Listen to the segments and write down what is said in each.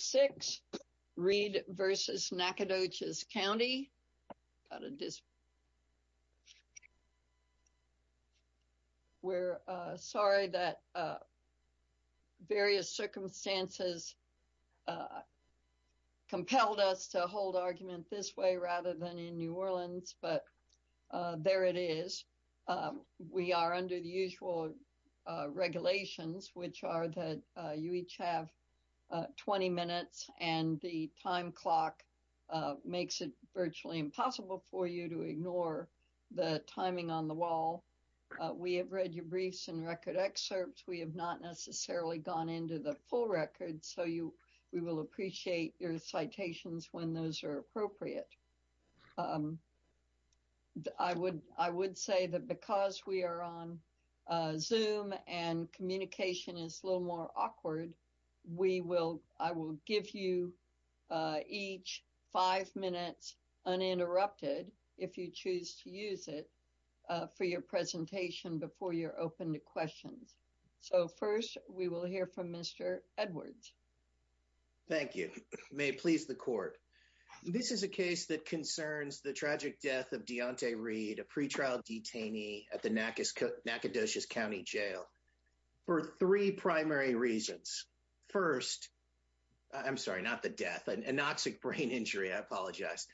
6, Reed v. Nacogdoches County. We're sorry that various circumstances compelled us to hold argument this way rather than in New Orleans, but there it is. We are and the time clock makes it virtually impossible for you to ignore the timing on the wall. We have read your briefs and record excerpts. We have not necessarily gone into the full record, so we will appreciate your citations when those are appropriate. I would say that because we are on Zoom and communication is a little more awkward, we will, I will give you each five minutes uninterrupted if you choose to use it for your presentation before you're open to questions. So first, we will hear from Mr. Edwards. Thank you. May it please the court. This is a case that concerns the tragic death of Deontay Reed, a pretrial detainee at the Nacogdoches County Jail for three primary reasons. First, I'm sorry, not the death, an anoxic brain injury. I apologize.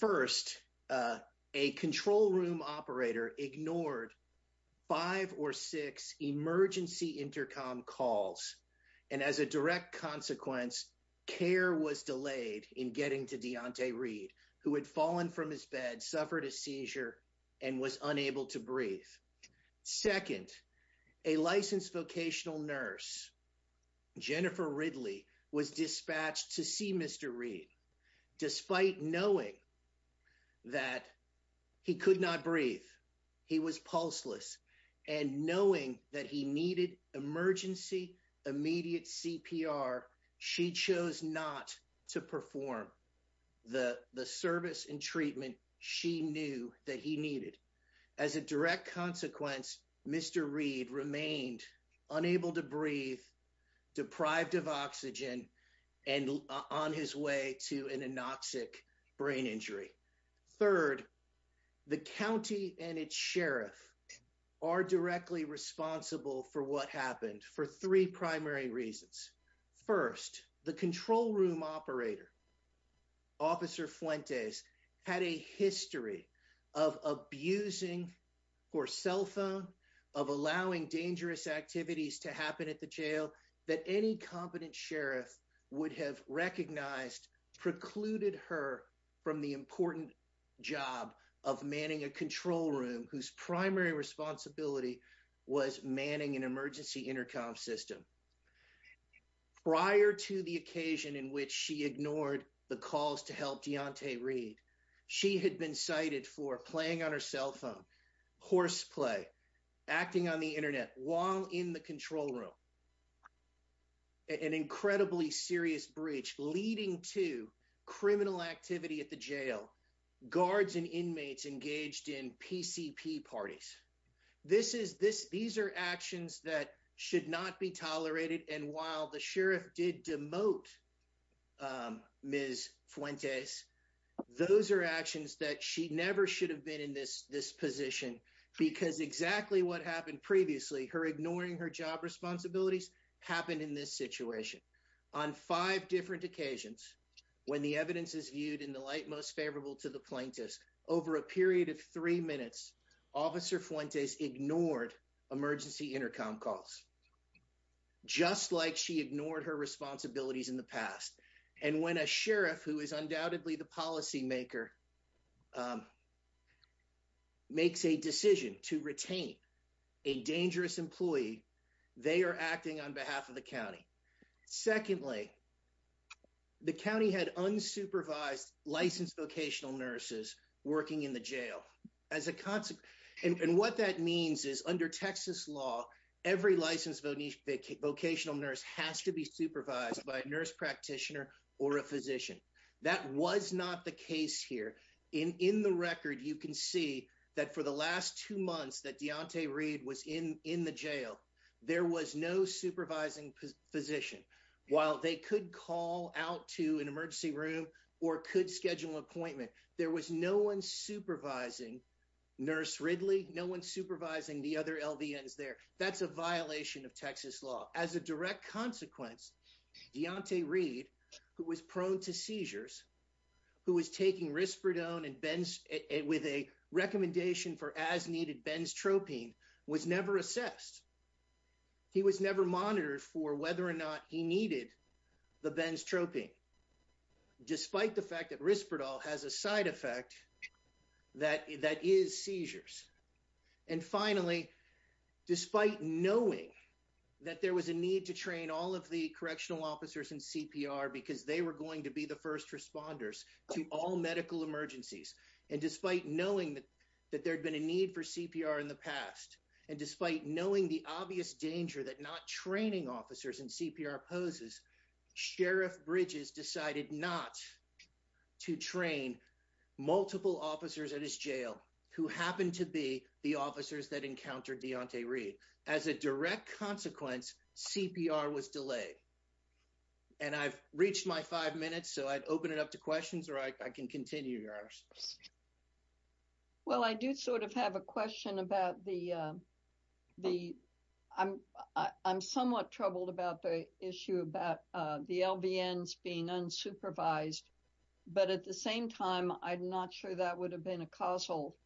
First, a control room operator ignored five or six emergency intercom calls, and as a direct consequence, care was delayed in getting to Deontay Reed, who had fallen from his bed, suffered a seizure, and was unable to breathe. Second, a licensed vocational nurse, Jennifer Ridley, was dispatched to see Mr. Reed. Despite knowing that he could not breathe, he was pulseless, and knowing that he needed emergency immediate CPR, she chose not to perform the service and treatment she knew that he needed. As a direct consequence, Mr. Reed remained unable to breathe, deprived of oxygen, and on his way to an anoxic brain injury. Third, the county and its sheriff are directly responsible for what happened for three primary reasons. First, the control room operator, Officer Fuentes, had a history of abusing her cell phone, of allowing dangerous activities to happen at the jail that any competent sheriff would have recognized precluded her from the important job of manning a control room whose primary responsibility was manning an emergency intercom system. Prior to the occasion in which she ignored the calls to help Deontay Reed, she had been cited for playing on her cell phone, horseplay, acting on the internet while in control room, an incredibly serious breach leading to criminal activity at the jail, guards and inmates engaged in PCP parties. These are actions that should not be tolerated, and while the sheriff did demote Ms. Fuentes, those are actions that she never should have been in this position because exactly what happened previously, her ignoring her job responsibilities, happened in this situation. On five different occasions, when the evidence is viewed in the light most favorable to the plaintiffs, over a period of three minutes, Officer Fuentes ignored emergency intercom calls, just like she ignored her responsibilities in the makes a decision to retain a dangerous employee, they are acting on behalf of the county. Secondly, the county had unsupervised licensed vocational nurses working in the jail, as a consequence, and what that means is under Texas law, every licensed vocational nurse has to be supervised by a nurse practitioner or a physician. That was not the case here, in the record you can see that for the last two months that Deontay Reed was in the jail, there was no supervising physician. While they could call out to an emergency room, or could schedule an appointment, there was no one supervising Nurse Ridley, no one supervising the other LVNs there, that's a violation of Texas law. As a direct consequence, Deontay Reed, who was prone to seizures, who was taking risperidone with a recommendation for as needed benzotropine, was never assessed. He was never monitored for whether or not he needed the benzotropine, despite the fact that risperidone has a side effect that is seizures. And finally, despite knowing that there was a need to train all of the correctional officers in CPR, because they were going to be the first responders to all medical emergencies, and despite knowing that there had been a need for CPR in the past, and despite knowing the obvious danger that not training officers in CPR poses, Sheriff Bridges decided not to train multiple officers at his jail, who happened to be the officers that encountered Deontay Reed. As a direct consequence, CPR was delayed. And I've reached my five minutes, so I'd open it up to questions, or I can continue, Your Honor. Well, I do sort of have a question about the, I'm somewhat troubled about the issue about the LVNs being unsupervised. But at the same time, I'm not sure that would have been a causal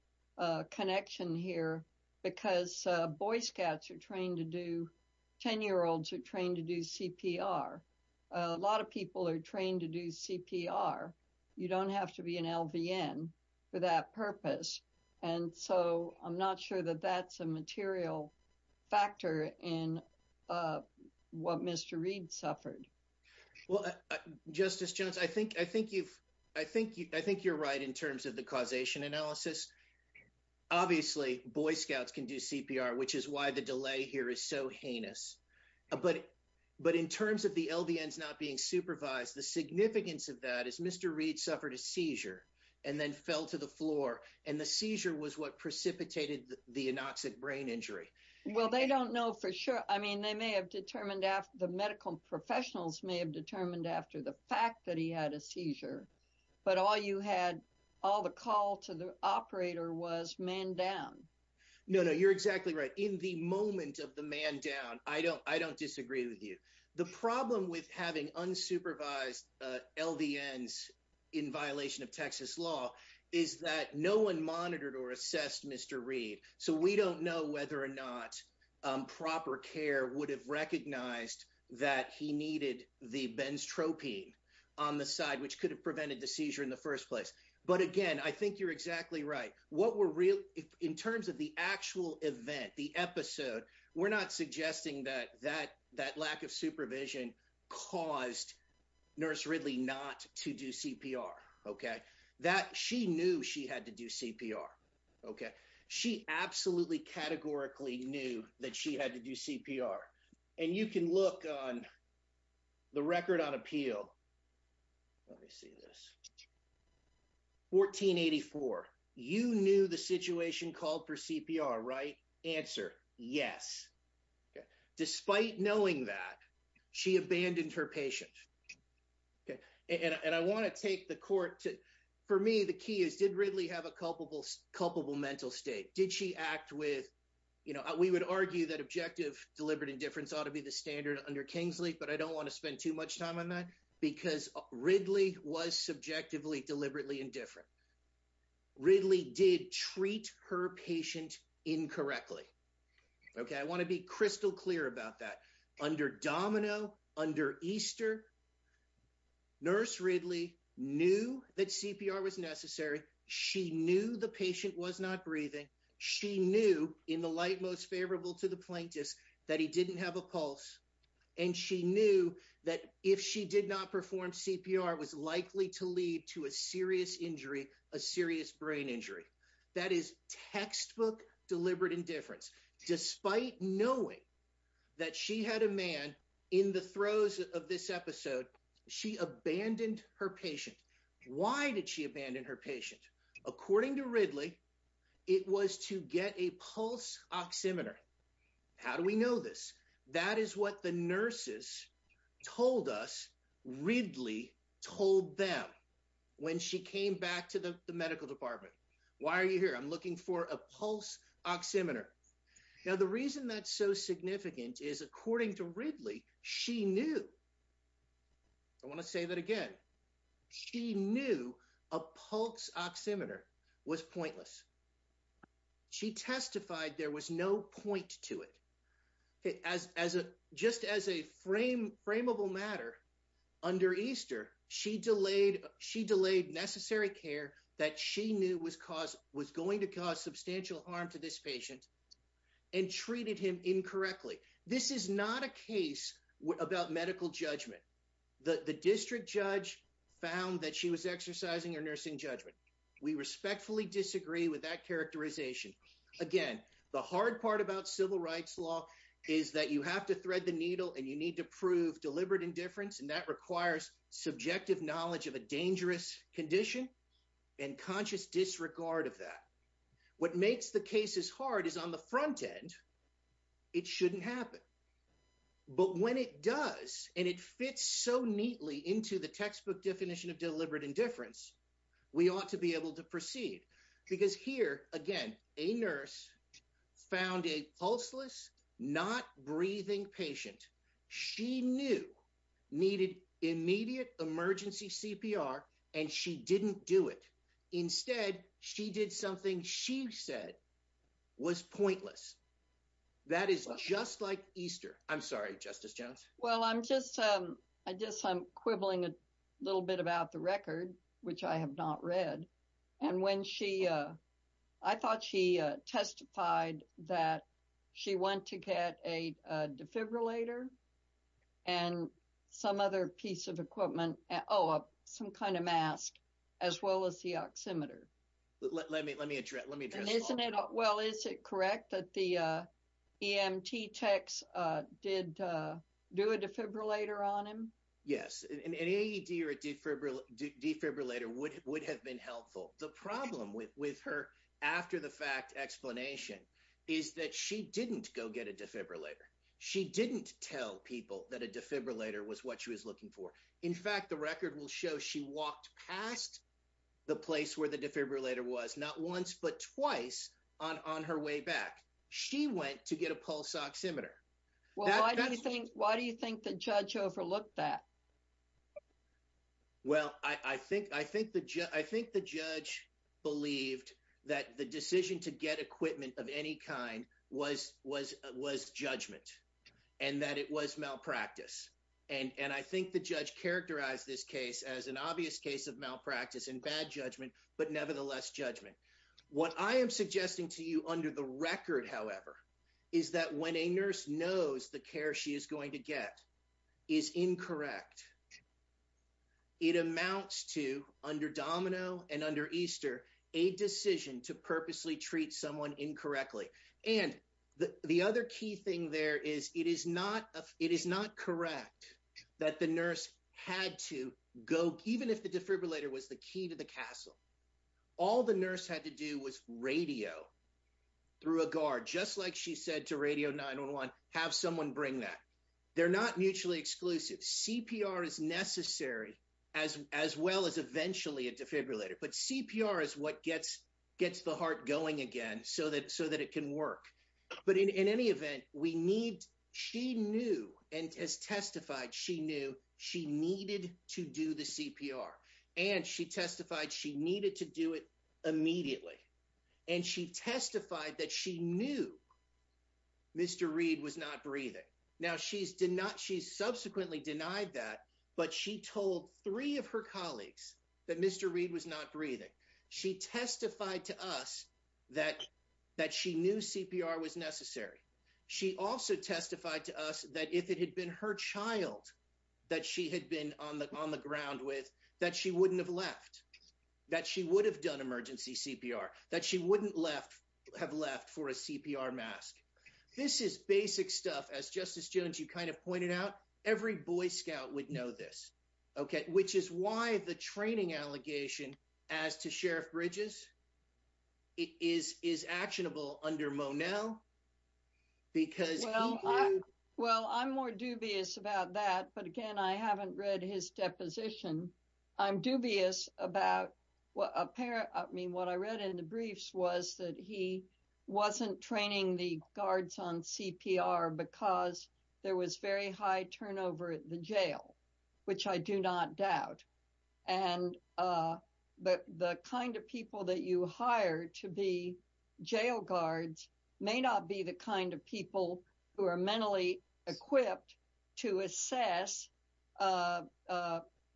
connection here, because Boy Scouts are trained to do, 10-year-olds are trained to do CPR. A lot of people are trained to do CPR. You don't have to be an LVN for that purpose. And so, I'm not sure that that's a material factor in what Mr. Reed suffered. Well, Justice Jones, I think you're right in terms of the causation analysis. Obviously, Boy Scouts can do CPR, which is why the delay here is so heinous. But in terms of the LVNs not being supervised, the significance of that is Mr. Reed suffered a seizure, and then fell to the floor. And the seizure was what precipitated the anoxic brain injury. Well, they don't know for sure. I mean, they may have determined, the medical professionals may have determined after the fact that he had a seizure. But all you had, all the call to the operator was man down. No, no, you're exactly right. In the moment of the man down, I don't disagree with you. The problem with having unsupervised LVNs in violation of Texas law is that no one monitored or assessed Mr. Reed. So, we don't know whether or not proper care would have recognized that he needed the benztropine on the side, which could have prevented the seizure in the first place. But again, I think you're exactly right. In terms of the actual event, the episode, we're not suggesting that that lack of supervision caused Nurse Ridley not to do CPR. She knew she had to do CPR. She absolutely categorically knew that she had to do CPR. And you can look on the record on appeal. Let me see this. 1484, you knew the situation called for CPR, right? Answer, yes. Despite knowing that, she abandoned her patient. And I want to take the court to, for me, the key is did Ridley have a culpable mental state? Did she act with, we would argue that objective deliberate indifference ought to be the standard under Kingsley, but I don't want to spend too much on that because Ridley was subjectively deliberately indifferent. Ridley did treat her patient incorrectly. Okay. I want to be crystal clear about that. Under Domino, under Easter, Nurse Ridley knew that CPR was necessary. She knew the patient was not breathing. She knew in the light most favorable to the plaintiffs that he didn't have a pulse. And she knew that if she did not perform CPR was likely to lead to a serious injury, a serious brain injury. That is textbook deliberate indifference. Despite knowing that she had a man in the throes of this episode, she abandoned her patient. Why did she abandon her patient? According to Ridley, it was to get a pulse oximeter. How do we know this? That is what the nurses told us. Ridley told them when she came back to the medical department, why are you here? I'm looking for a pulse oximeter. Now, the reason that's so significant is according to Ridley, she knew, I want to say that again. She knew a pulse oximeter was pointless. She testified there was no point to it. Just as a frame, frameable matter, under Easter, she delayed necessary care that she knew was going to cause substantial harm to this patient and treated him incorrectly. This is not a case about medical judgment. The district judge found that she was exercising her nursing judgment. We respectfully disagree with that characterization. Again, the hard part about civil rights law is that you have to thread the needle and you need to prove deliberate indifference. That requires subjective knowledge of a dangerous condition and conscious disregard of that. What makes the cases hard is on the front definition of deliberate indifference. We ought to be able to proceed because here again, a nurse found a pulseless, not breathing patient. She knew needed immediate emergency CPR and she didn't do it. Instead, she did something she said was pointless. That is just like Easter. I'm sorry, a little bit about the record, which I have not read. I thought she testified that she went to get a defibrillator and some other piece of equipment, oh, some kind of mask, as well as the oximeter. Let me address that. Well, is it correct that the EMT techs did do a defibrillator on him? Yes. An AED or a defibrillator would have been helpful. The problem with her after the fact explanation is that she didn't go get a defibrillator. She didn't tell people that a defibrillator was what she was looking for. In fact, the record will show she walked past the place where the defibrillator was not once, but twice on her way back. She went to get a pulse oximeter. Why do you think the judge overlooked that? Well, I think the judge believed that the decision to get equipment of any kind was judgment and that it was malpractice. I think the judge characterized this case as obvious case of malpractice and bad judgment, but nevertheless judgment. What I am suggesting to you under the record, however, is that when a nurse knows the care she is going to get is incorrect, it amounts to, under Domino and under Easter, a decision to purposely treat someone incorrectly. And the other key thing there is it is not correct that the nurse had to go, even if the defibrillator was the key to the castle, all the nurse had to do was radio through a guard, just like she said to radio 911, have someone bring that. They're not mutually exclusive. CPR is necessary as well as eventually a defibrillator, but CPR is what gets the heart going again so that it can work. But in any event, she knew and has testified she knew she needed to do the CPR and she testified she needed to do it immediately. And she testified that she knew Mr. Reed was not breathing. Now she subsequently denied that, but she told three of colleagues that Mr. Reed was not breathing. She testified to us that she knew CPR was necessary. She also testified to us that if it had been her child that she had been on the ground with, that she wouldn't have left, that she would have done emergency CPR, that she wouldn't have left for a CPR mask. This is basic stuff. As Justice Jones, you kind of pointed out, every Boy Scout would know this, okay, which is why the training allegation as to Sheriff Bridges is actionable under Monell. Well, I'm more dubious about that, but again, I haven't read his deposition. I'm dubious about what a parent, I mean, what I read in the briefs was that he wasn't training the guards on CPR because there was very high turnover at the jail, which I do not doubt. But the kind of people that you hire to be jail guards may not be the kind of people who are mentally equipped to assess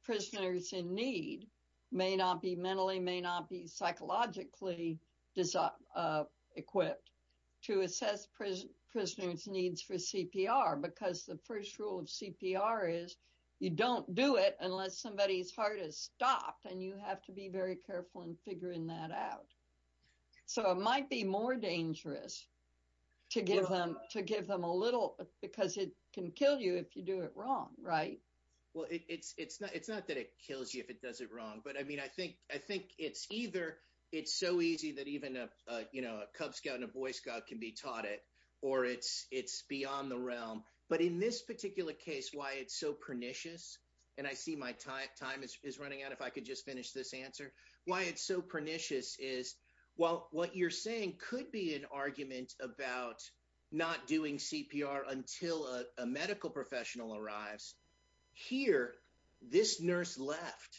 prisoners in need, may not be mentally, may not be psychologically equipped to assess prisoners' needs for CPR, because the first rule of CPR is you don't do it unless somebody's heart is stopped, and you have to be very careful in figuring that out. So, it might be more dangerous to give them a little, because it can kill you if you do it wrong, right? Well, it's not that it kills you if it does it wrong, but I mean, I think it's either it's so easy that even a Cub Scout and a Boy Scout can be taught it, or it's beyond the realm. But in this particular case, why it's so pernicious, and I see my time is running out, if I could just finish this answer, why it's so pernicious is, while what you're saying could be an argument about not doing CPR until a medical professional arrives, here, this nurse left,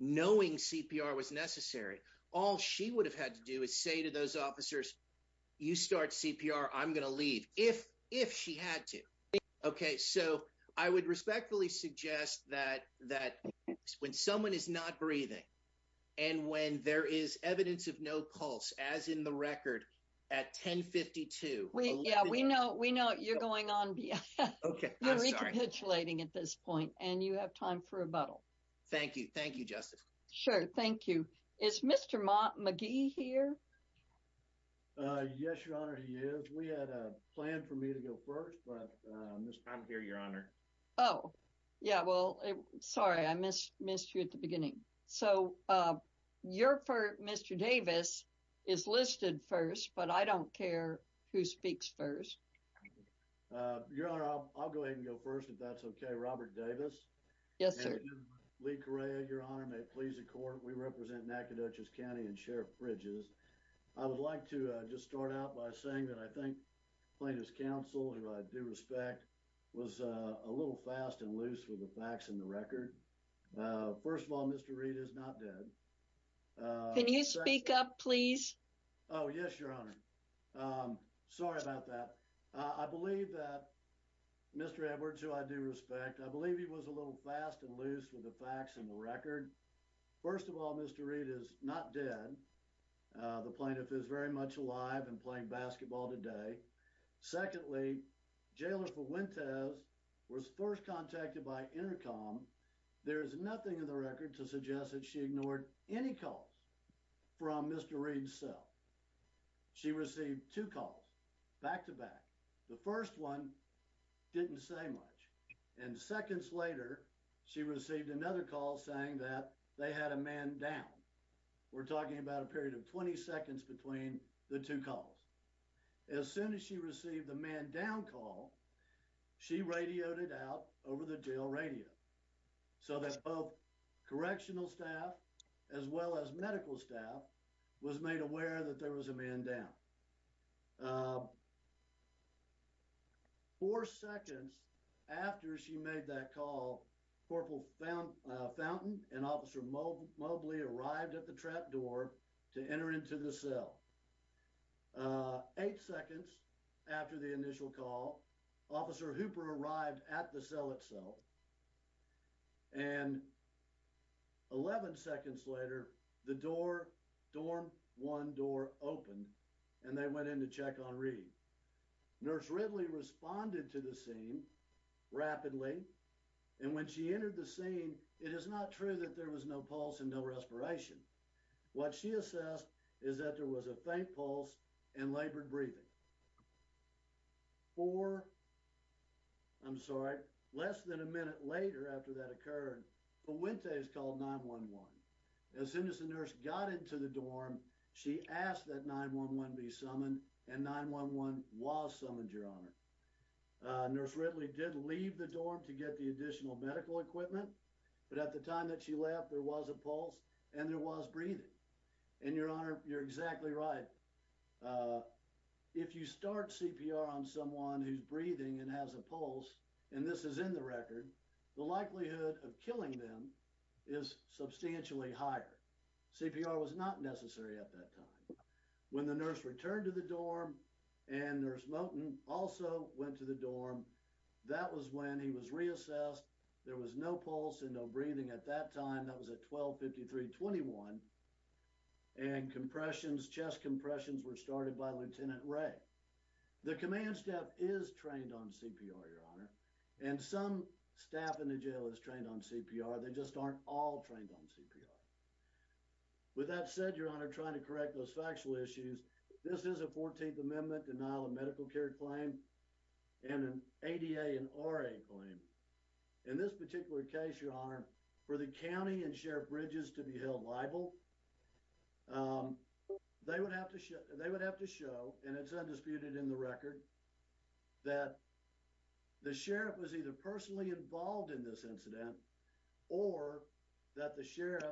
knowing CPR was necessary. All she would have had to do is say to those officers, you start CPR, I'm going to leave, if she had to. Okay, so, I would respectfully suggest that when someone is not breathing, and when there is evidence of no pulse, as in the record, at 1052. We, yeah, we know, we know you're going on. Okay. You're recapitulating at this point, and you have time for rebuttal. Thank you. Thank you, Justice. Sure. Thank you. Is Mr. McGee here? Yes, Your Honor, he is. We had a plan for me to go first, but, I'm here, Your Honor. Oh, yeah, well, sorry, I missed you at the beginning. So, your first, Mr. Davis, is listed first, but I don't care who speaks first. Your Honor, I'll go ahead and go first, if that's okay. Robert Davis? Yes, sir. And Lieutenant Lee Correa, Your Honor, may it please the Court, we represent Nacogdoches County and Sheriff Bridges. I would like to just start out by saying that I think plaintiff's counsel, who I do respect, was a little fast and loose with the facts and the record. First of all, Mr. Reed is not dead. Can you speak up, please? Oh, yes, Your Honor. Sorry about that. I believe that Mr. Edwards, who I do respect, I believe he was a little fast and loose with the facts and the record. First of all, Mr. Reed is not dead. The plaintiff is very much alive and playing basketball today. Secondly, Jailer Fuentes was first contacted by Intercom. There is nothing in the record to suggest that she ignored any calls from Mr. Reed's cell. She received two calls, back to back. The first one didn't say much. And seconds later, she received another call saying that they had a man down. We're talking about a period of 20 seconds between the two calls. As soon as she received the man down call, she radioed it out over the jail radio, so that both correctional staff as well as medical staff was made aware that there was a man down. Four seconds after she made that call, Corporal Fountain and Officer Mobley arrived at the trap door to enter into the cell. Eight seconds after the initial call, Officer Hooper arrived at the cell itself. And 11 seconds later, the door, Dorm 1 door opened and they went in to check on Reed. Nurse Ridley responded to the scene rapidly. And when she entered the scene, it is not true that there was no pulse and no respiration. What she assessed is that there was a faint pulse and labored breathing. And four, I'm sorry, less than a minute later after that occurred, Puente is called 911. As soon as the nurse got into the dorm, she asked that 911 be summoned. And 911 was summoned, Your Honor. Nurse Ridley did leave the dorm to get the additional medical equipment. But at the time that she left, there was a pulse and there was breathing. And Your Honor, you're exactly right. Uh, if you start CPR on someone who's breathing and has a pulse, and this is in the record, the likelihood of killing them is substantially higher. CPR was not necessary at that time. When the nurse returned to the dorm and Nurse Moten also went to the dorm, that was when he was reassessed. There was no pulse and no breathing at that time. That was at 12-53-21. And compressions, chest compressions were started by Lieutenant Ray. The command staff is trained on CPR, Your Honor. And some staff in the jail is trained on CPR. They just aren't all trained on CPR. With that said, Your Honor, trying to correct those factual issues, this is a 14th Amendment denial of medical care claim and an ADA and RA claim. In this particular case, Your Honor, for the county and sheriff bridges to be held liable, they would have to show, and it's undisputed in the record, that the sheriff was either personally involved in this incident or that the sheriff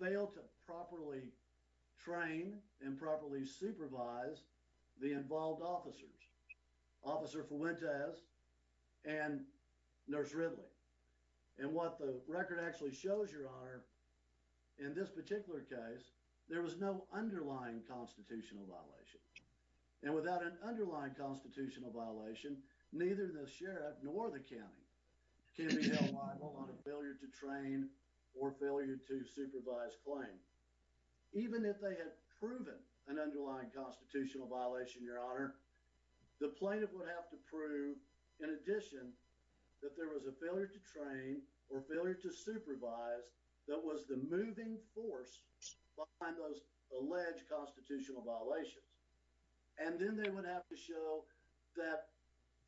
failed to properly train and properly supervise the involved officers. Officer Fuentes and Nurse Ridley. And what the record actually shows, Your Honor, in this particular case, there was no underlying constitutional violation. And without an underlying constitutional violation, neither the sheriff nor the county can be held liable on a failure to train or failure to supervise claim. Even if they had proven an underlying constitutional violation, Your Honor, the plaintiff would have to prove, in addition, that there was a failure to train or failure to supervise that was the moving force behind those alleged constitutional violations. And then they would have to show that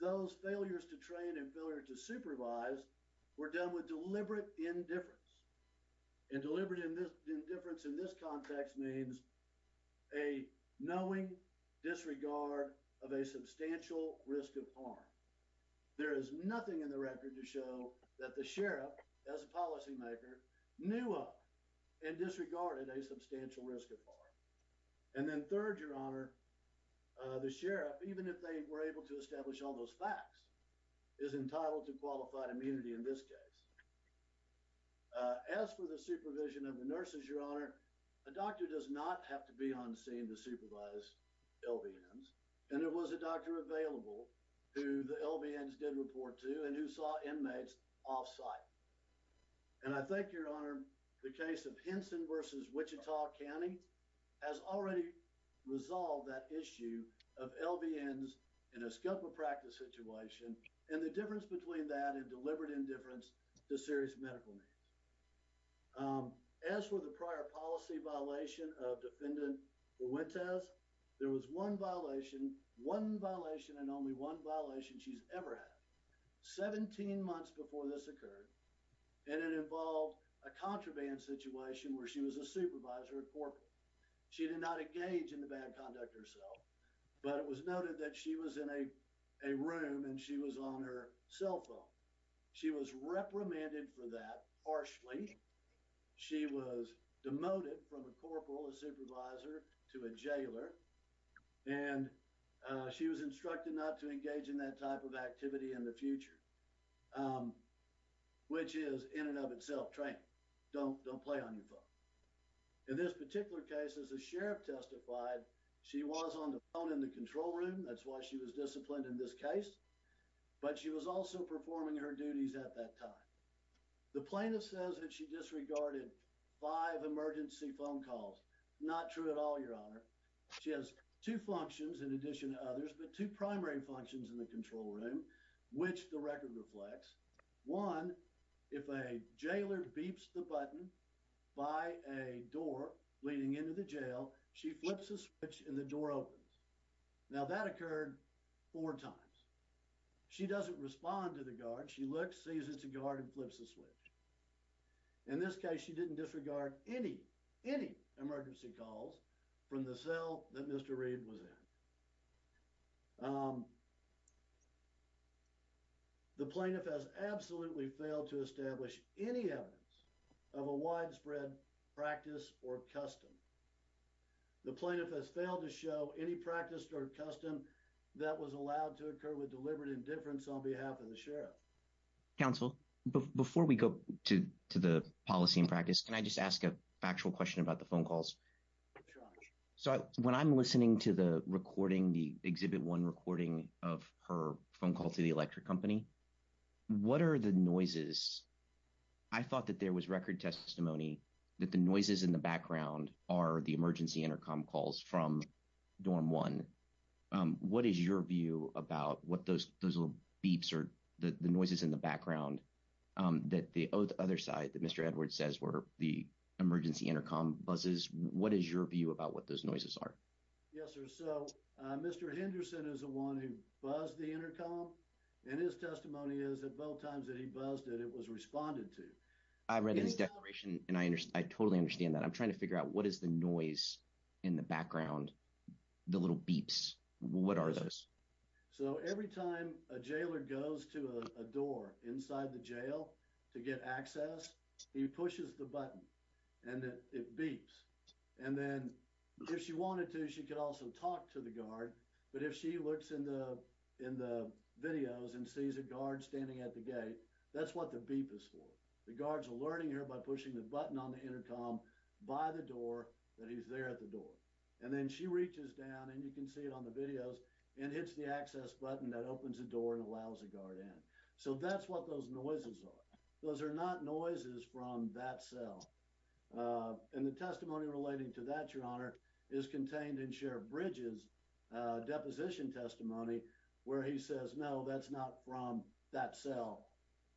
those failures to train and failure to supervise were done with deliberate indifference. And deliberate indifference in this context means a knowing disregard of a substantial risk of harm. There is nothing in the record to show that the sheriff, as a policymaker, knew of and disregarded a substantial risk of harm. And then third, Your Honor, the sheriff, even if they were able to establish all those facts, is entitled to qualified immunity in this case. As for the supervision of the nurses, Your Honor, a doctor does not have to be on scene to supervise LVNs. And there was a doctor available who the LVNs did report to and who saw inmates off-site. And I think, Your Honor, the case of Henson versus Wichita County has already resolved that issue of LVNs in a scope of practice situation and the difference between that and deliberate indifference to serious medical needs. Um, as for the prior policy violation of Defendant Fuentes, there was one violation, one violation and only one violation she's ever had. Seventeen months before this occurred and it involved a contraband situation where she was a supervisor at corporate. She did not engage in the bad conduct herself but it was noted that she was in a, a room and she was on her cell phone. She was reprimanded for that harshly. She was demoted from a corporal, a supervisor to a jailer and, uh, she was instructed not to engage in that type of activity in the future. Um, which is in and of itself training. Don't, don't play on your phone. In this particular case, as the sheriff testified, she was on the phone in the control room. That's why she was disciplined in this case. But she was also performing her duties at that time. The plaintiff says that she disregarded five emergency phone calls. Not true at all, your honor. She has two functions in addition to others but two primary functions in the control room which the record reflects. One, if a jailer beeps the button by a door leading into the jail, she flips a switch and the door opens. Now that occurred four times. She doesn't respond to the guard. She looks, sees it's a guard and flips the switch. In this case, she didn't disregard any, any emergency calls from the cell that Mr. Reed was in. Um, the plaintiff has absolutely failed to establish any evidence of a widespread practice or custom. The plaintiff has failed to show any practice or custom that was allowed to occur with deliberate indifference on behalf of the sheriff. Counsel, before we go to, to the policy and practice, can I just ask a factual question about the phone calls? So when I'm listening to the recording, the exhibit one recording of her phone call to the electric company, what are the noises? I thought that there was record testimony that the noises in the background are the emergency intercom calls from dorm one. What is your view about what those, those little beeps are? The noises in the background that the other side that Mr. Edwards says were the emergency intercom buses. What is your view about what those noises are? Yes, sir. So Mr. Henderson is the one who buzzed the intercom and his testimony is that both times that he buzzed it, it was responded to. I read his declaration and I understand, I totally understand that. I'm trying to figure out what is the noise in the background, the little beeps, what are those? So every time a jailer goes to a door inside the jail to get access, he pushes the button and it beeps. And then if she wanted to, she could also talk to the guard. But if she looks in the, in the videos and sees a guard standing at the gate, that's what the beep is for. The guards are alerting her by pushing the button on the intercom by the door that he's there at the door. And then she reaches down and you can see it on the videos and hits the access button that opens the door and allows a guard in. So that's what those noises are. Those are not noises from that cell. And the testimony relating to that, your honor, is contained in Sheriff Bridges' deposition testimony where he says, no, that's not from that cell.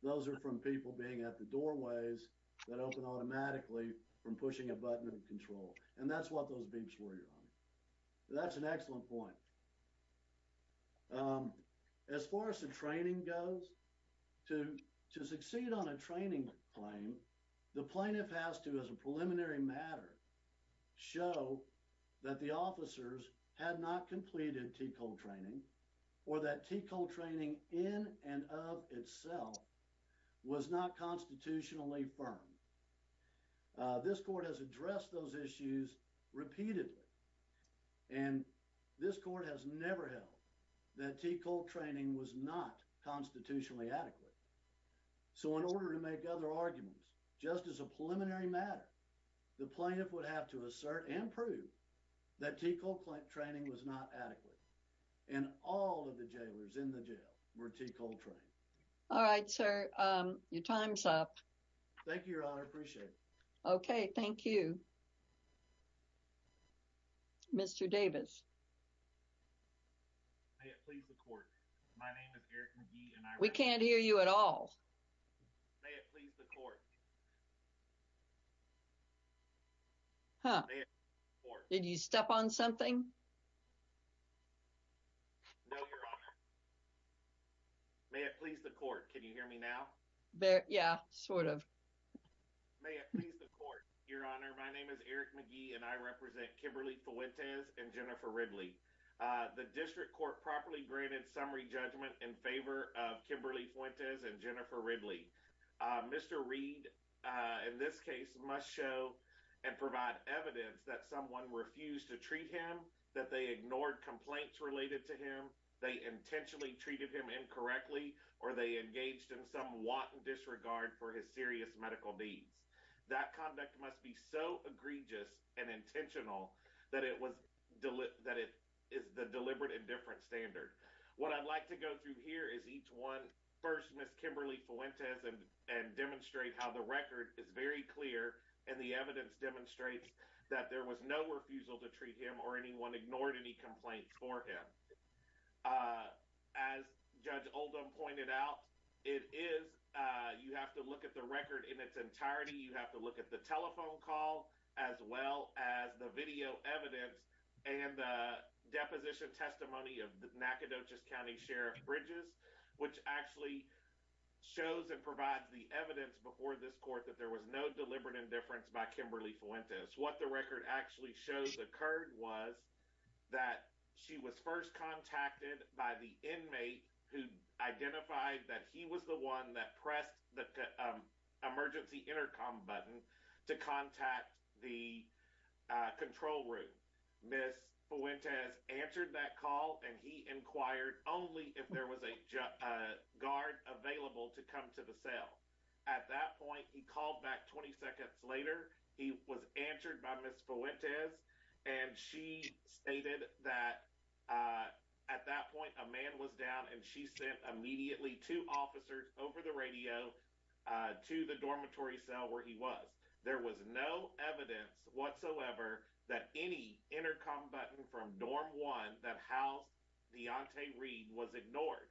Those are from people being at the doorways that open automatically from pushing a button and control. And that's what those beeps were, your honor. That's an excellent point. As far as the training goes, to, to succeed on a training claim, the plaintiff has to, as a preliminary matter, show that the officers had not completed TCOL training or that TCOL training in and of itself was not constitutionally firm. This court has addressed those issues repeatedly. And this court has never held that TCOL training was not constitutionally adequate. So in order to make other arguments, just as a preliminary matter, the plaintiff would have to assert and prove that TCOL training was not adequate. And all of the jailers in the jail were TCOL trained. All right, sir, your time's up. Thank you, your honor. I appreciate it. Okay. Thank you. Mr. Davis. May it please the court. My name is Eric McGee and I- We can't hear you at all. May it please the court. Huh. Did you step on something? No, your honor. May it please the court. Can you hear me now? Yeah, sort of. May it please the court. Your honor, my name is Eric McGee and I represent Kimberly Fuentes and Jennifer Ridley. The district court properly granted summary judgment in favor of Kimberly Fuentes and Jennifer Ridley. Mr. Reed, in this case, must show and provide evidence that someone refused to treat him, that they ignored complaints related to him, they intentionally treated him incorrectly, or they engaged in some wanton disregard for his serious medical needs. That conduct must be so egregious and intentional that it is the deliberate indifference standard. What I'd like to go through here is each one. First, Ms. Kimberly Fuentes and demonstrate how the record is very clear and the evidence demonstrates that there was no refusal to treat him or anyone ignored any complaints for him. Uh, as Judge Oldham pointed out, it is, uh, you have to look at the record in its entirety. You have to look at the telephone call as well as the video evidence and the deposition testimony of the Nacogdoches County Sheriff Bridges, which actually shows and provides the evidence before this court that there was no deliberate indifference by Kimberly Fuentes. What the record actually shows occurred was that she was first contacted by the inmate who identified that he was the one that pressed the, um, emergency intercom button to contact the, uh, control room. Ms. Fuentes answered that call and he inquired only if there was a, uh, guard available to come to the cell. At that point, he called back 20 seconds later. He was answered by Ms. Fuentes and she stated that, uh, at that point, a man was down and she sent immediately two officers over the radio, uh, to the dormitory cell where he was. There was no evidence whatsoever that any intercom button from dorm one that housed Deontay Reed was ignored.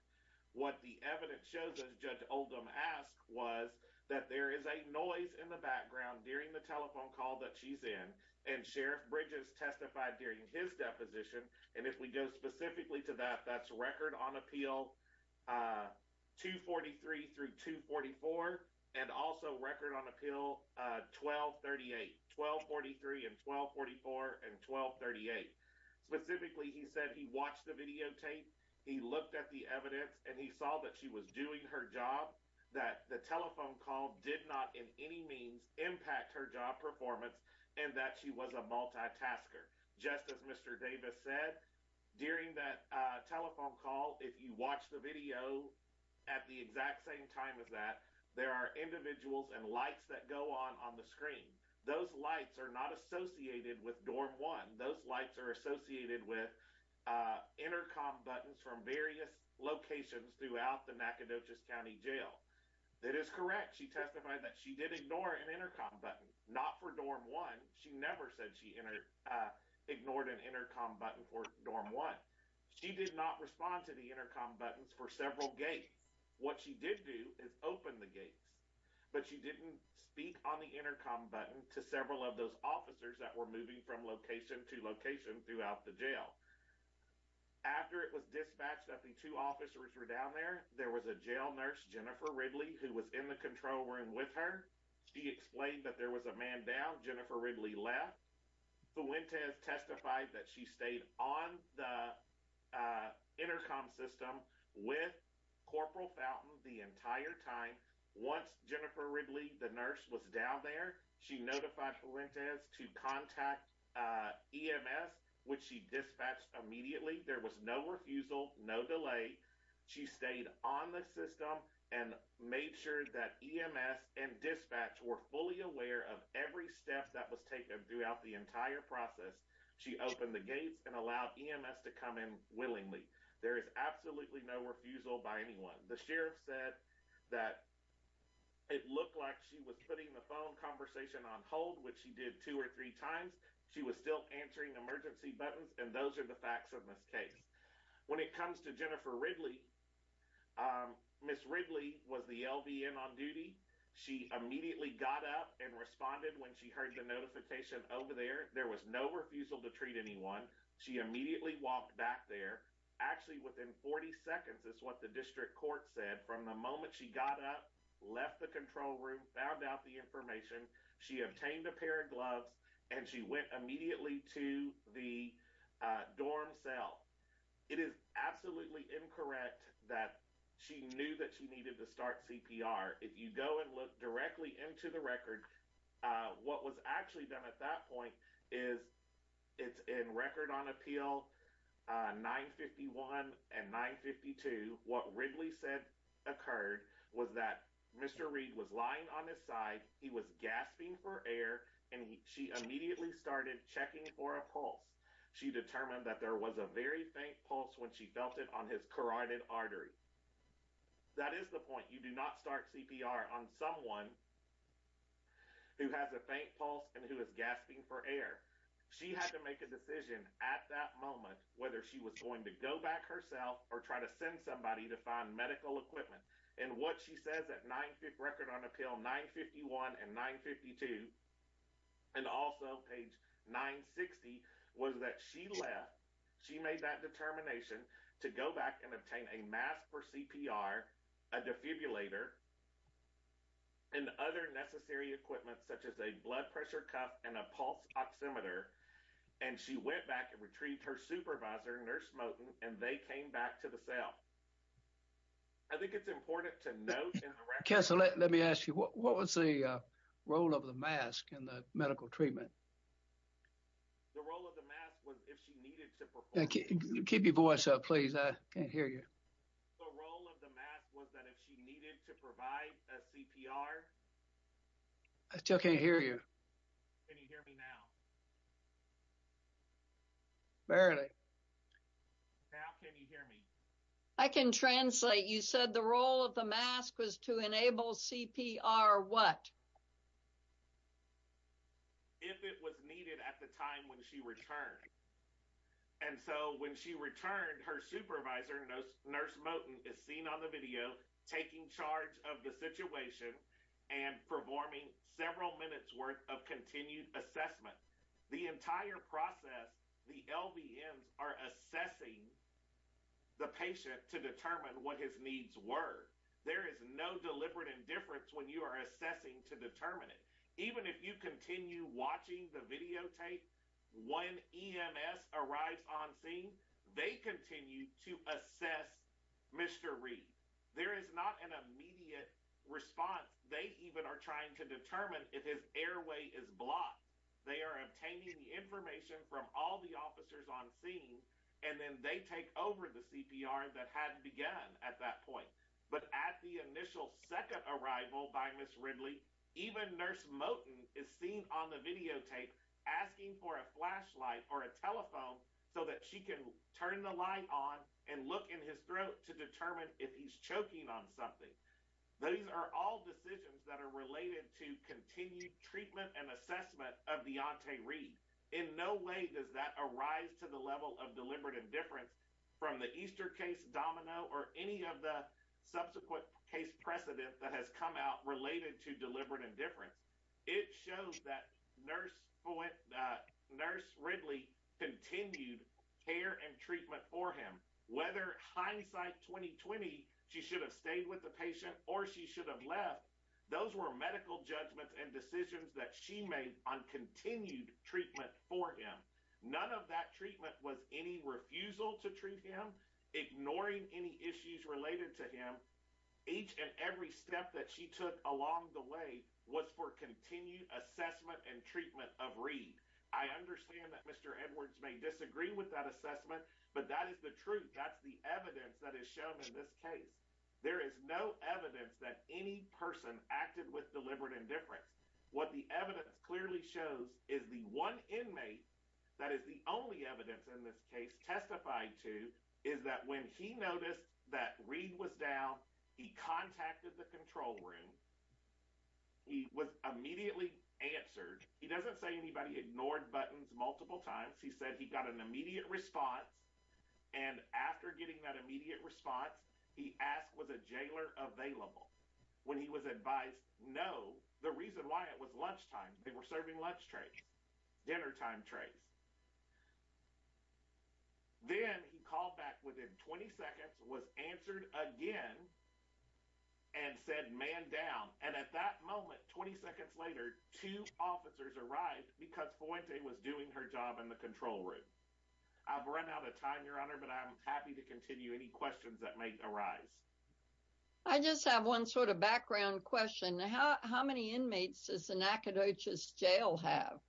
What the evidence shows, as Judge Oldham asked, was that there is a noise in the background during the telephone call that she's in and Sheriff Bridges testified during his deposition. And if we go specifically to that, that's record on appeal, uh, 243 through 244 and also record on appeal, uh, 1238. 1243 and 1244 and 1238. Specifically, he said he watched the videotape. He looked at the evidence and he saw that she was doing her job, that the telephone call did not in any means impact her job performance and that she was a multitasker. Just as Mr. Davis said, during that telephone call, if you watch the video at the exact same time as that, there are individuals and lights that go on on the screen. Those lights are not associated with dorm one. Those lights are associated with, uh, intercom buttons from various locations throughout the Nacogdoches County Jail. That is correct. She testified that she did ignore an intercom button, not for dorm one. She never said she ignored an intercom button for dorm one. She did not respond to the intercom buttons for several gates. What she did do is open the gates, but she didn't speak on the intercom button to several of those officers that were moving from location to location throughout the jail. After it was dispatched that the two officers were down there, there was a jail nurse, Jennifer Ridley, who was in the control room with her. She explained that there was a man down. Jennifer Ridley left. Fuentes testified that she stayed on the intercom system with Corporal Fountain the entire time. Once Jennifer Ridley, the nurse, was down there, she notified Fuentes to contact EMS, which she dispatched immediately. There was no refusal, no delay. She stayed on the system and made sure that EMS and dispatch were fully aware of every step that was taken throughout the entire process. She opened the gates and allowed EMS to come in willingly. There is absolutely no refusal by anyone. The sheriff said that it looked like she was putting the phone conversation on hold, which she did two or three times. She was still answering emergency buttons, and those are the facts of this case. When it comes to Jennifer Ridley, Ms. Ridley was the LVN on duty. She immediately got up and responded when she heard the notification over there. There was no refusal to treat anyone. She immediately walked back there. Actually, within 40 seconds, is what the district court said. From the moment she got up, left the control room, found out the information, she obtained a pair of gloves, and she went immediately to the dorm cell. It is absolutely incorrect that she knew that she needed to start CPR. If you go and look directly into the record, what was actually done at that point is it's in record on appeal 951 and 952. What Ridley said occurred was that Mr. Reed was lying on his side. He was gasping for air, and she immediately started checking for a pulse. She determined that there was a very faint pulse when she felt it on his carotid artery. That is the point. You do not start CPR on someone who has a faint pulse and who is gasping for air. She had to make a decision at that moment whether she was going to go back herself or try to send somebody to find medical equipment, and what she says at record on appeal 951 and 952 and also page 960 was that she left. She made that determination to go back and obtain a mask for CPR, a defibrillator, and other necessary equipment such as a blood pressure cuff and a pulse oximeter, and she went back and retrieved her supervisor, Nurse Moten, and they came back to the cell. I think it's important to note in the record- Let me ask you, what was the role of the mask in the medical treatment? The role of the mask was if she needed to- Keep your voice up, please. I can't hear you. The role of the mask was that if she needed to provide a CPR- I still can't hear you. Can you hear me now? Barely. Now can you hear me? I can translate. You said the role of the mask was to enable CPR what? If it was needed at the time when she returned, and so when she returned, her supervisor, Nurse Moten, is seen on the video taking charge of the situation and performing several minutes worth of continued assessment. The entire process, the LVMs are assessing the patient to determine what his needs were. There is no deliberate indifference when you are assessing to determine it. Even if you continue watching the videotape, when EMS arrives on scene, they continue to assess Mr. Reed. There is not an immediate response. They even are trying to determine if his airway is blocked. They are obtaining the information from all the officers on scene, and then they take over the CPR that had begun at that point. But at the initial second arrival by Ms. Ridley, even Nurse Moten is seen on the videotape asking for a flashlight or a telephone so that she can turn the light on and look in his throat to determine if he's choking on something. Those are all decisions that are related to continued treatment and assessment of Deontay Reed. In no way does that arise to the level of deliberate indifference from the Easter case domino or any of the subsequent case precedent that has come out related to deliberate indifference. It shows that Nurse Ridley continued care and treatment for him. Whether hindsight 2020, she should have stayed with the patient or she should have left, those were medical judgments and decisions that she made on continued treatment for him. None of that treatment was any refusal to treat him, ignoring any issues related to him. Each and every step that she took along the way was for continued assessment and treatment of Reed. I understand that Mr. Edwards may disagree with that assessment, but that is the truth. That's the evidence that is shown in this case. There is no evidence that any person acted with deliberate indifference. What the evidence clearly shows is the one inmate that is the only evidence in this case testified to is that when he noticed that Reed was down, he contacted the control room. He was immediately answered. He doesn't say anybody ignored buttons multiple times. He said he got an immediate response and after getting that immediate response, he asked was a jailer available. When he was advised no, the reason why it was lunchtime, they were serving lunch trays, dinner time trays. Then he called back within 20 seconds, was answered again and said man down. And at that moment, 20 seconds later, two officers arrived because Fuente was doing her job in the control room. I've run out of time, your honor, but I'm happy to continue any questions that may arise. I just have one sort of background question. How many inmates is the Nacogdoches jail have?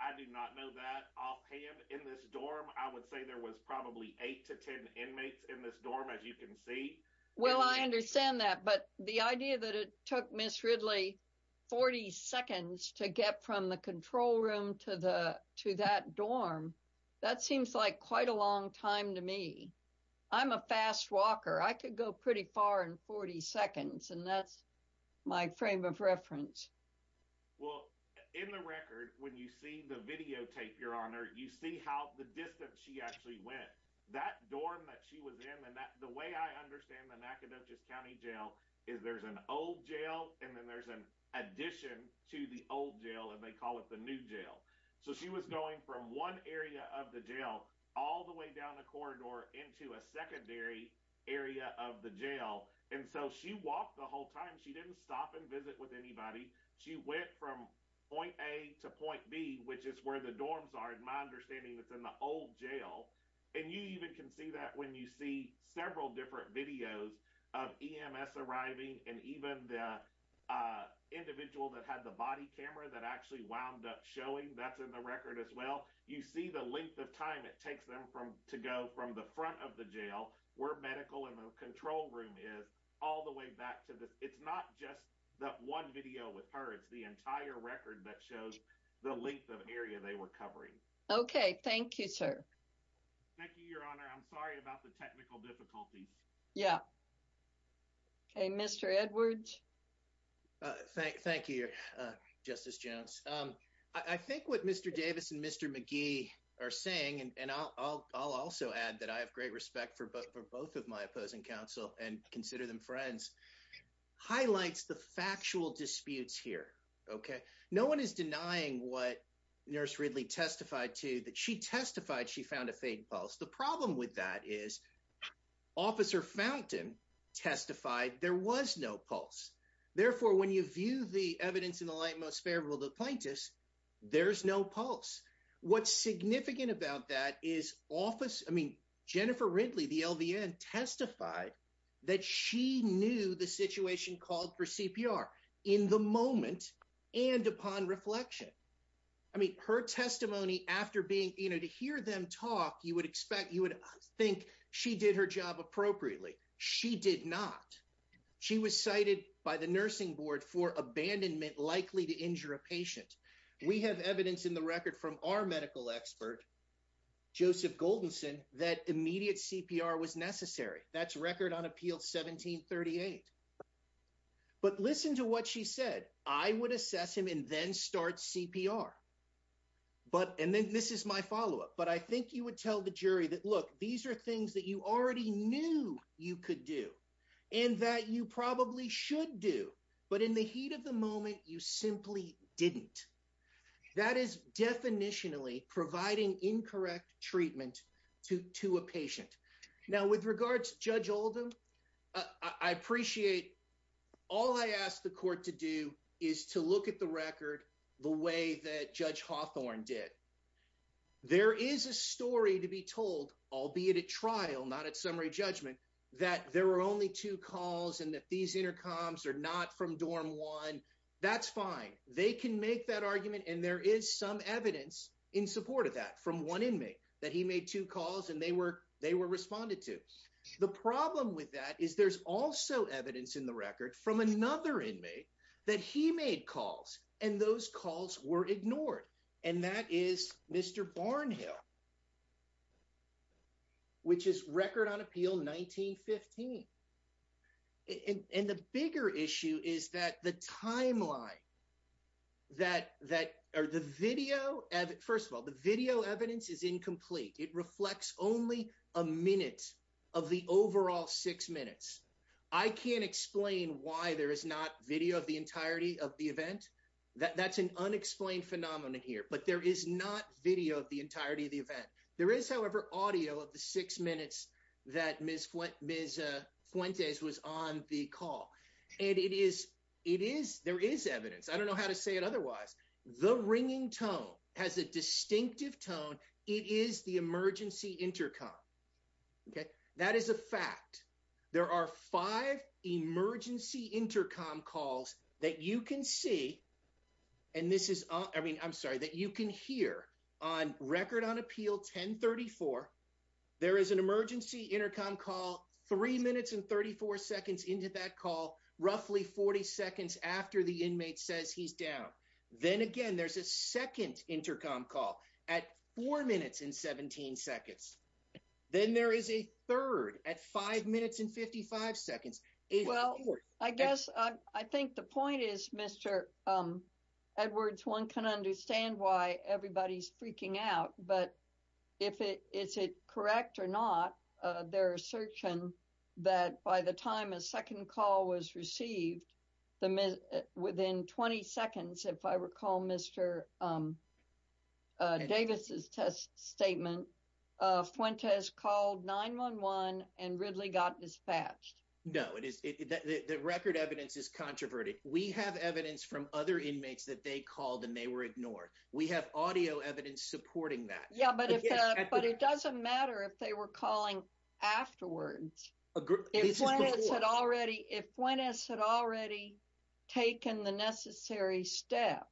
I do not know that offhand. In this dorm, I would say there was probably eight to 10 inmates in this dorm, as you can see. Well, I understand that, but the idea that it took Ms. Ridley 40 seconds to get from the control room to that dorm, that seems like quite a long time to me. I'm a fast walker. I could go pretty far in 40 seconds, and that's my frame of reference. Well, in the record, when you see the videotape, your honor, you see how the distance she actually went. That dorm that she was in, and the way I understand the Nacogdoches County Jail is there's an old jail, and then there's an addition to the old jail, and they call it the new jail. So she was going from one area of the jail all the way down the corridor into a secondary area of the jail, and so she walked the whole time. She didn't stop and visit with anybody. She went from point A to point B, which is where the dorms are, and my understanding it's in the old jail, and you even can see that when you see several different videos of EMS arriving, and even the individual that had the body camera that actually wound up showing, that's in the record as well. You see the length of time it takes them to go from the front of the jail where medical and the control room is all the way back to this. It's not just that one video with her. It's the entire record that shows the length of area they were covering. Okay, thank you, sir. Thank you, your honor. I'm sorry about the technical difficulties. Yeah. Okay, Mr. Edwards. Thank you, Justice Jones. I think what Mr. Davis and Mr. McGee are saying, and I'll also add that I have great respect for both of my opposing counsel and consider them friends, highlights the factual disputes here, okay? No one is denying what Nurse Ridley testified to, that she testified she found a fake pulse. The problem with that is Officer Fountain testified there was no pulse. Therefore, when you view the evidence in the light most favorable to the plaintiffs, there's no pulse. What's significant about that is office, I mean, Jennifer Ridley, the LVN testified that she knew the situation called for CPR in the moment and upon reflection. I mean, her testimony after being, you know, to hear them talk, you would expect, you would think she did her job appropriately. She did not. She was cited by the nursing board for abandonment likely to injure a patient. We have evidence in the record from our medical expert, Joseph Goldenson, that immediate CPR was necessary. That's record on appeal 1738. But listen to what she said. I would assess him and then start CPR. And then this is my follow-up, but I think you would tell the jury that, look, these are things that you already knew could do and that you probably should do, but in the heat of the moment, you simply didn't. That is definitionally providing incorrect treatment to a patient. Now with regards to Judge Oldham, I appreciate all I asked the court to do is to look at the record the way that Judge Hawthorne did. There is a story to be told, albeit at trial, not at summary judgment, that there were only two calls and that these intercoms are not from dorm one. That's fine. They can make that argument and there is some evidence in support of that from one inmate that he made two calls and they were responded to. The problem with that is there's also evidence in the record from another inmate that he made calls and those calls were ignored. And that is Mr. Barnhill, which is Record on Appeal 1915. And the bigger issue is that the timeline that, or the video, first of all, the video evidence is incomplete. It reflects only a minute of the overall six minutes. I can't explain why there is not video of the entirety of the event. That's an unexplained phenomenon here, but there is not video of the entirety of the event. There is, however, audio of the six minutes that Ms. Fuentes was on the call. And it is, it is, there is evidence. I don't know how to say it otherwise. The ringing tone has a distinctive tone. It is the emergency intercom, okay? That is a fact. There are five emergency intercom calls that you can see, and this is, I mean, I'm sorry, that you can hear on Record on Appeal 1034, there is an emergency intercom call three minutes and 34 seconds into that call, roughly 40 seconds after the inmate says he's down. Then again, there's a second intercom call at four minutes and 17 seconds. Then there is a third at five minutes and 55 seconds. It is four. Well, I guess I think the point is, Mr. Edwards, one can understand why everybody's freaking out, but if it, is it correct or not, they're searching that by the time a second call was received, within 20 seconds, if I recall Mr. Davis's test statement, Fuentes called 911 and Ridley got dispatched. No, it is, the record evidence is controverted. We have evidence from other inmates that they called and they were ignored. We have audio evidence supporting that. Yeah, but it doesn't matter if they were calling afterwards. If Fuentes had already taken the necessary step,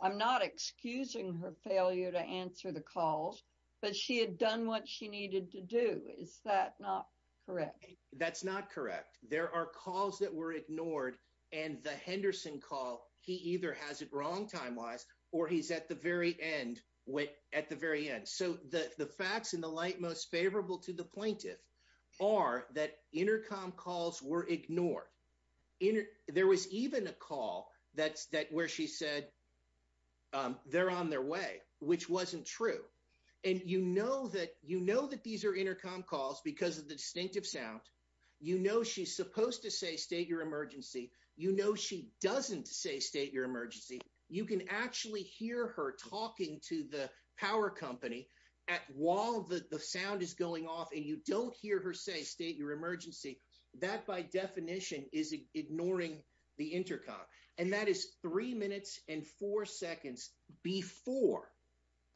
I'm not excusing her failure to answer the calls, but she had done what she needed to do. Is that not correct? That's not correct. There are calls that were ignored and the Henderson call, he either has it wrong time-wise or he's at the very end, at the very end. So the facts in the light, most favorable to the plaintiff are that intercom calls were ignored. There was even a call that's, that where she said they're on their way, which wasn't true. And you know that, you know that these are intercom calls because of the distinctive sound, you know, she's supposed to say, state your emergency. You know, she doesn't say state your emergency. You can actually hear her talking to the power company at while the sound is going off and you don't hear her say, state your emergency. That by definition is ignoring the intercom. And that is three minutes and four seconds before,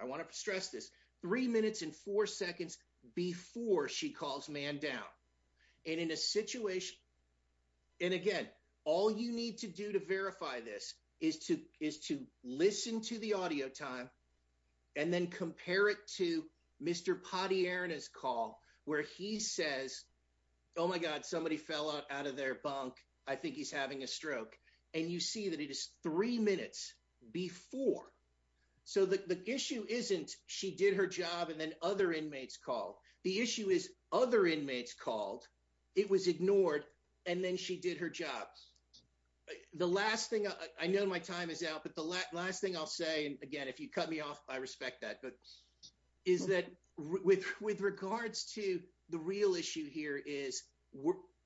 I want to stress this, three minutes and four seconds before she calls man down. And in a situation, and again, all you need to do to verify this is to listen to the audio time and then compare it to Mr. Potierna's call where he says, oh my God, somebody fell out of their bunk. I think he's having a stroke. And you see that it is three minutes before. So the issue isn't she did her job and then other inmates called. The issue is other inmates called. It was ignored. And then she did her job. The last thing, I know my time is out, but the last thing I'll say, again, if you cut me off, I respect that, but is that with regards to the real issue here is,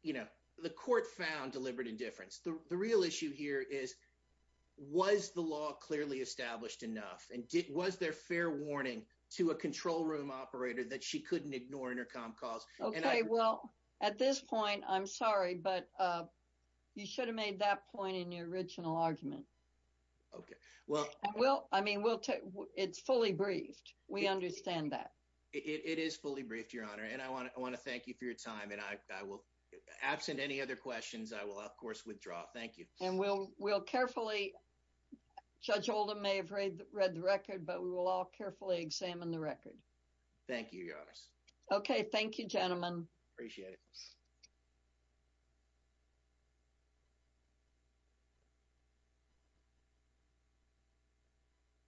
you know, the court found deliberate indifference. The real issue here is, was the law clearly established enough? And was there fair warning to a control room operator that she couldn't ignore intercom calls? Okay, well, at this point, I'm sorry, but you should have made that point in your original argument. Okay. Well, I mean, it's fully briefed. We understand that. It is fully briefed, Your Honor. And I want to thank you for your time. And I will, absent any other questions, I will of course, withdraw. And we'll carefully, Judge Oldham may have read the record, but we will all carefully examine the record. Thank you, Your Honor. Okay. Thank you, gentlemen. Appreciate it.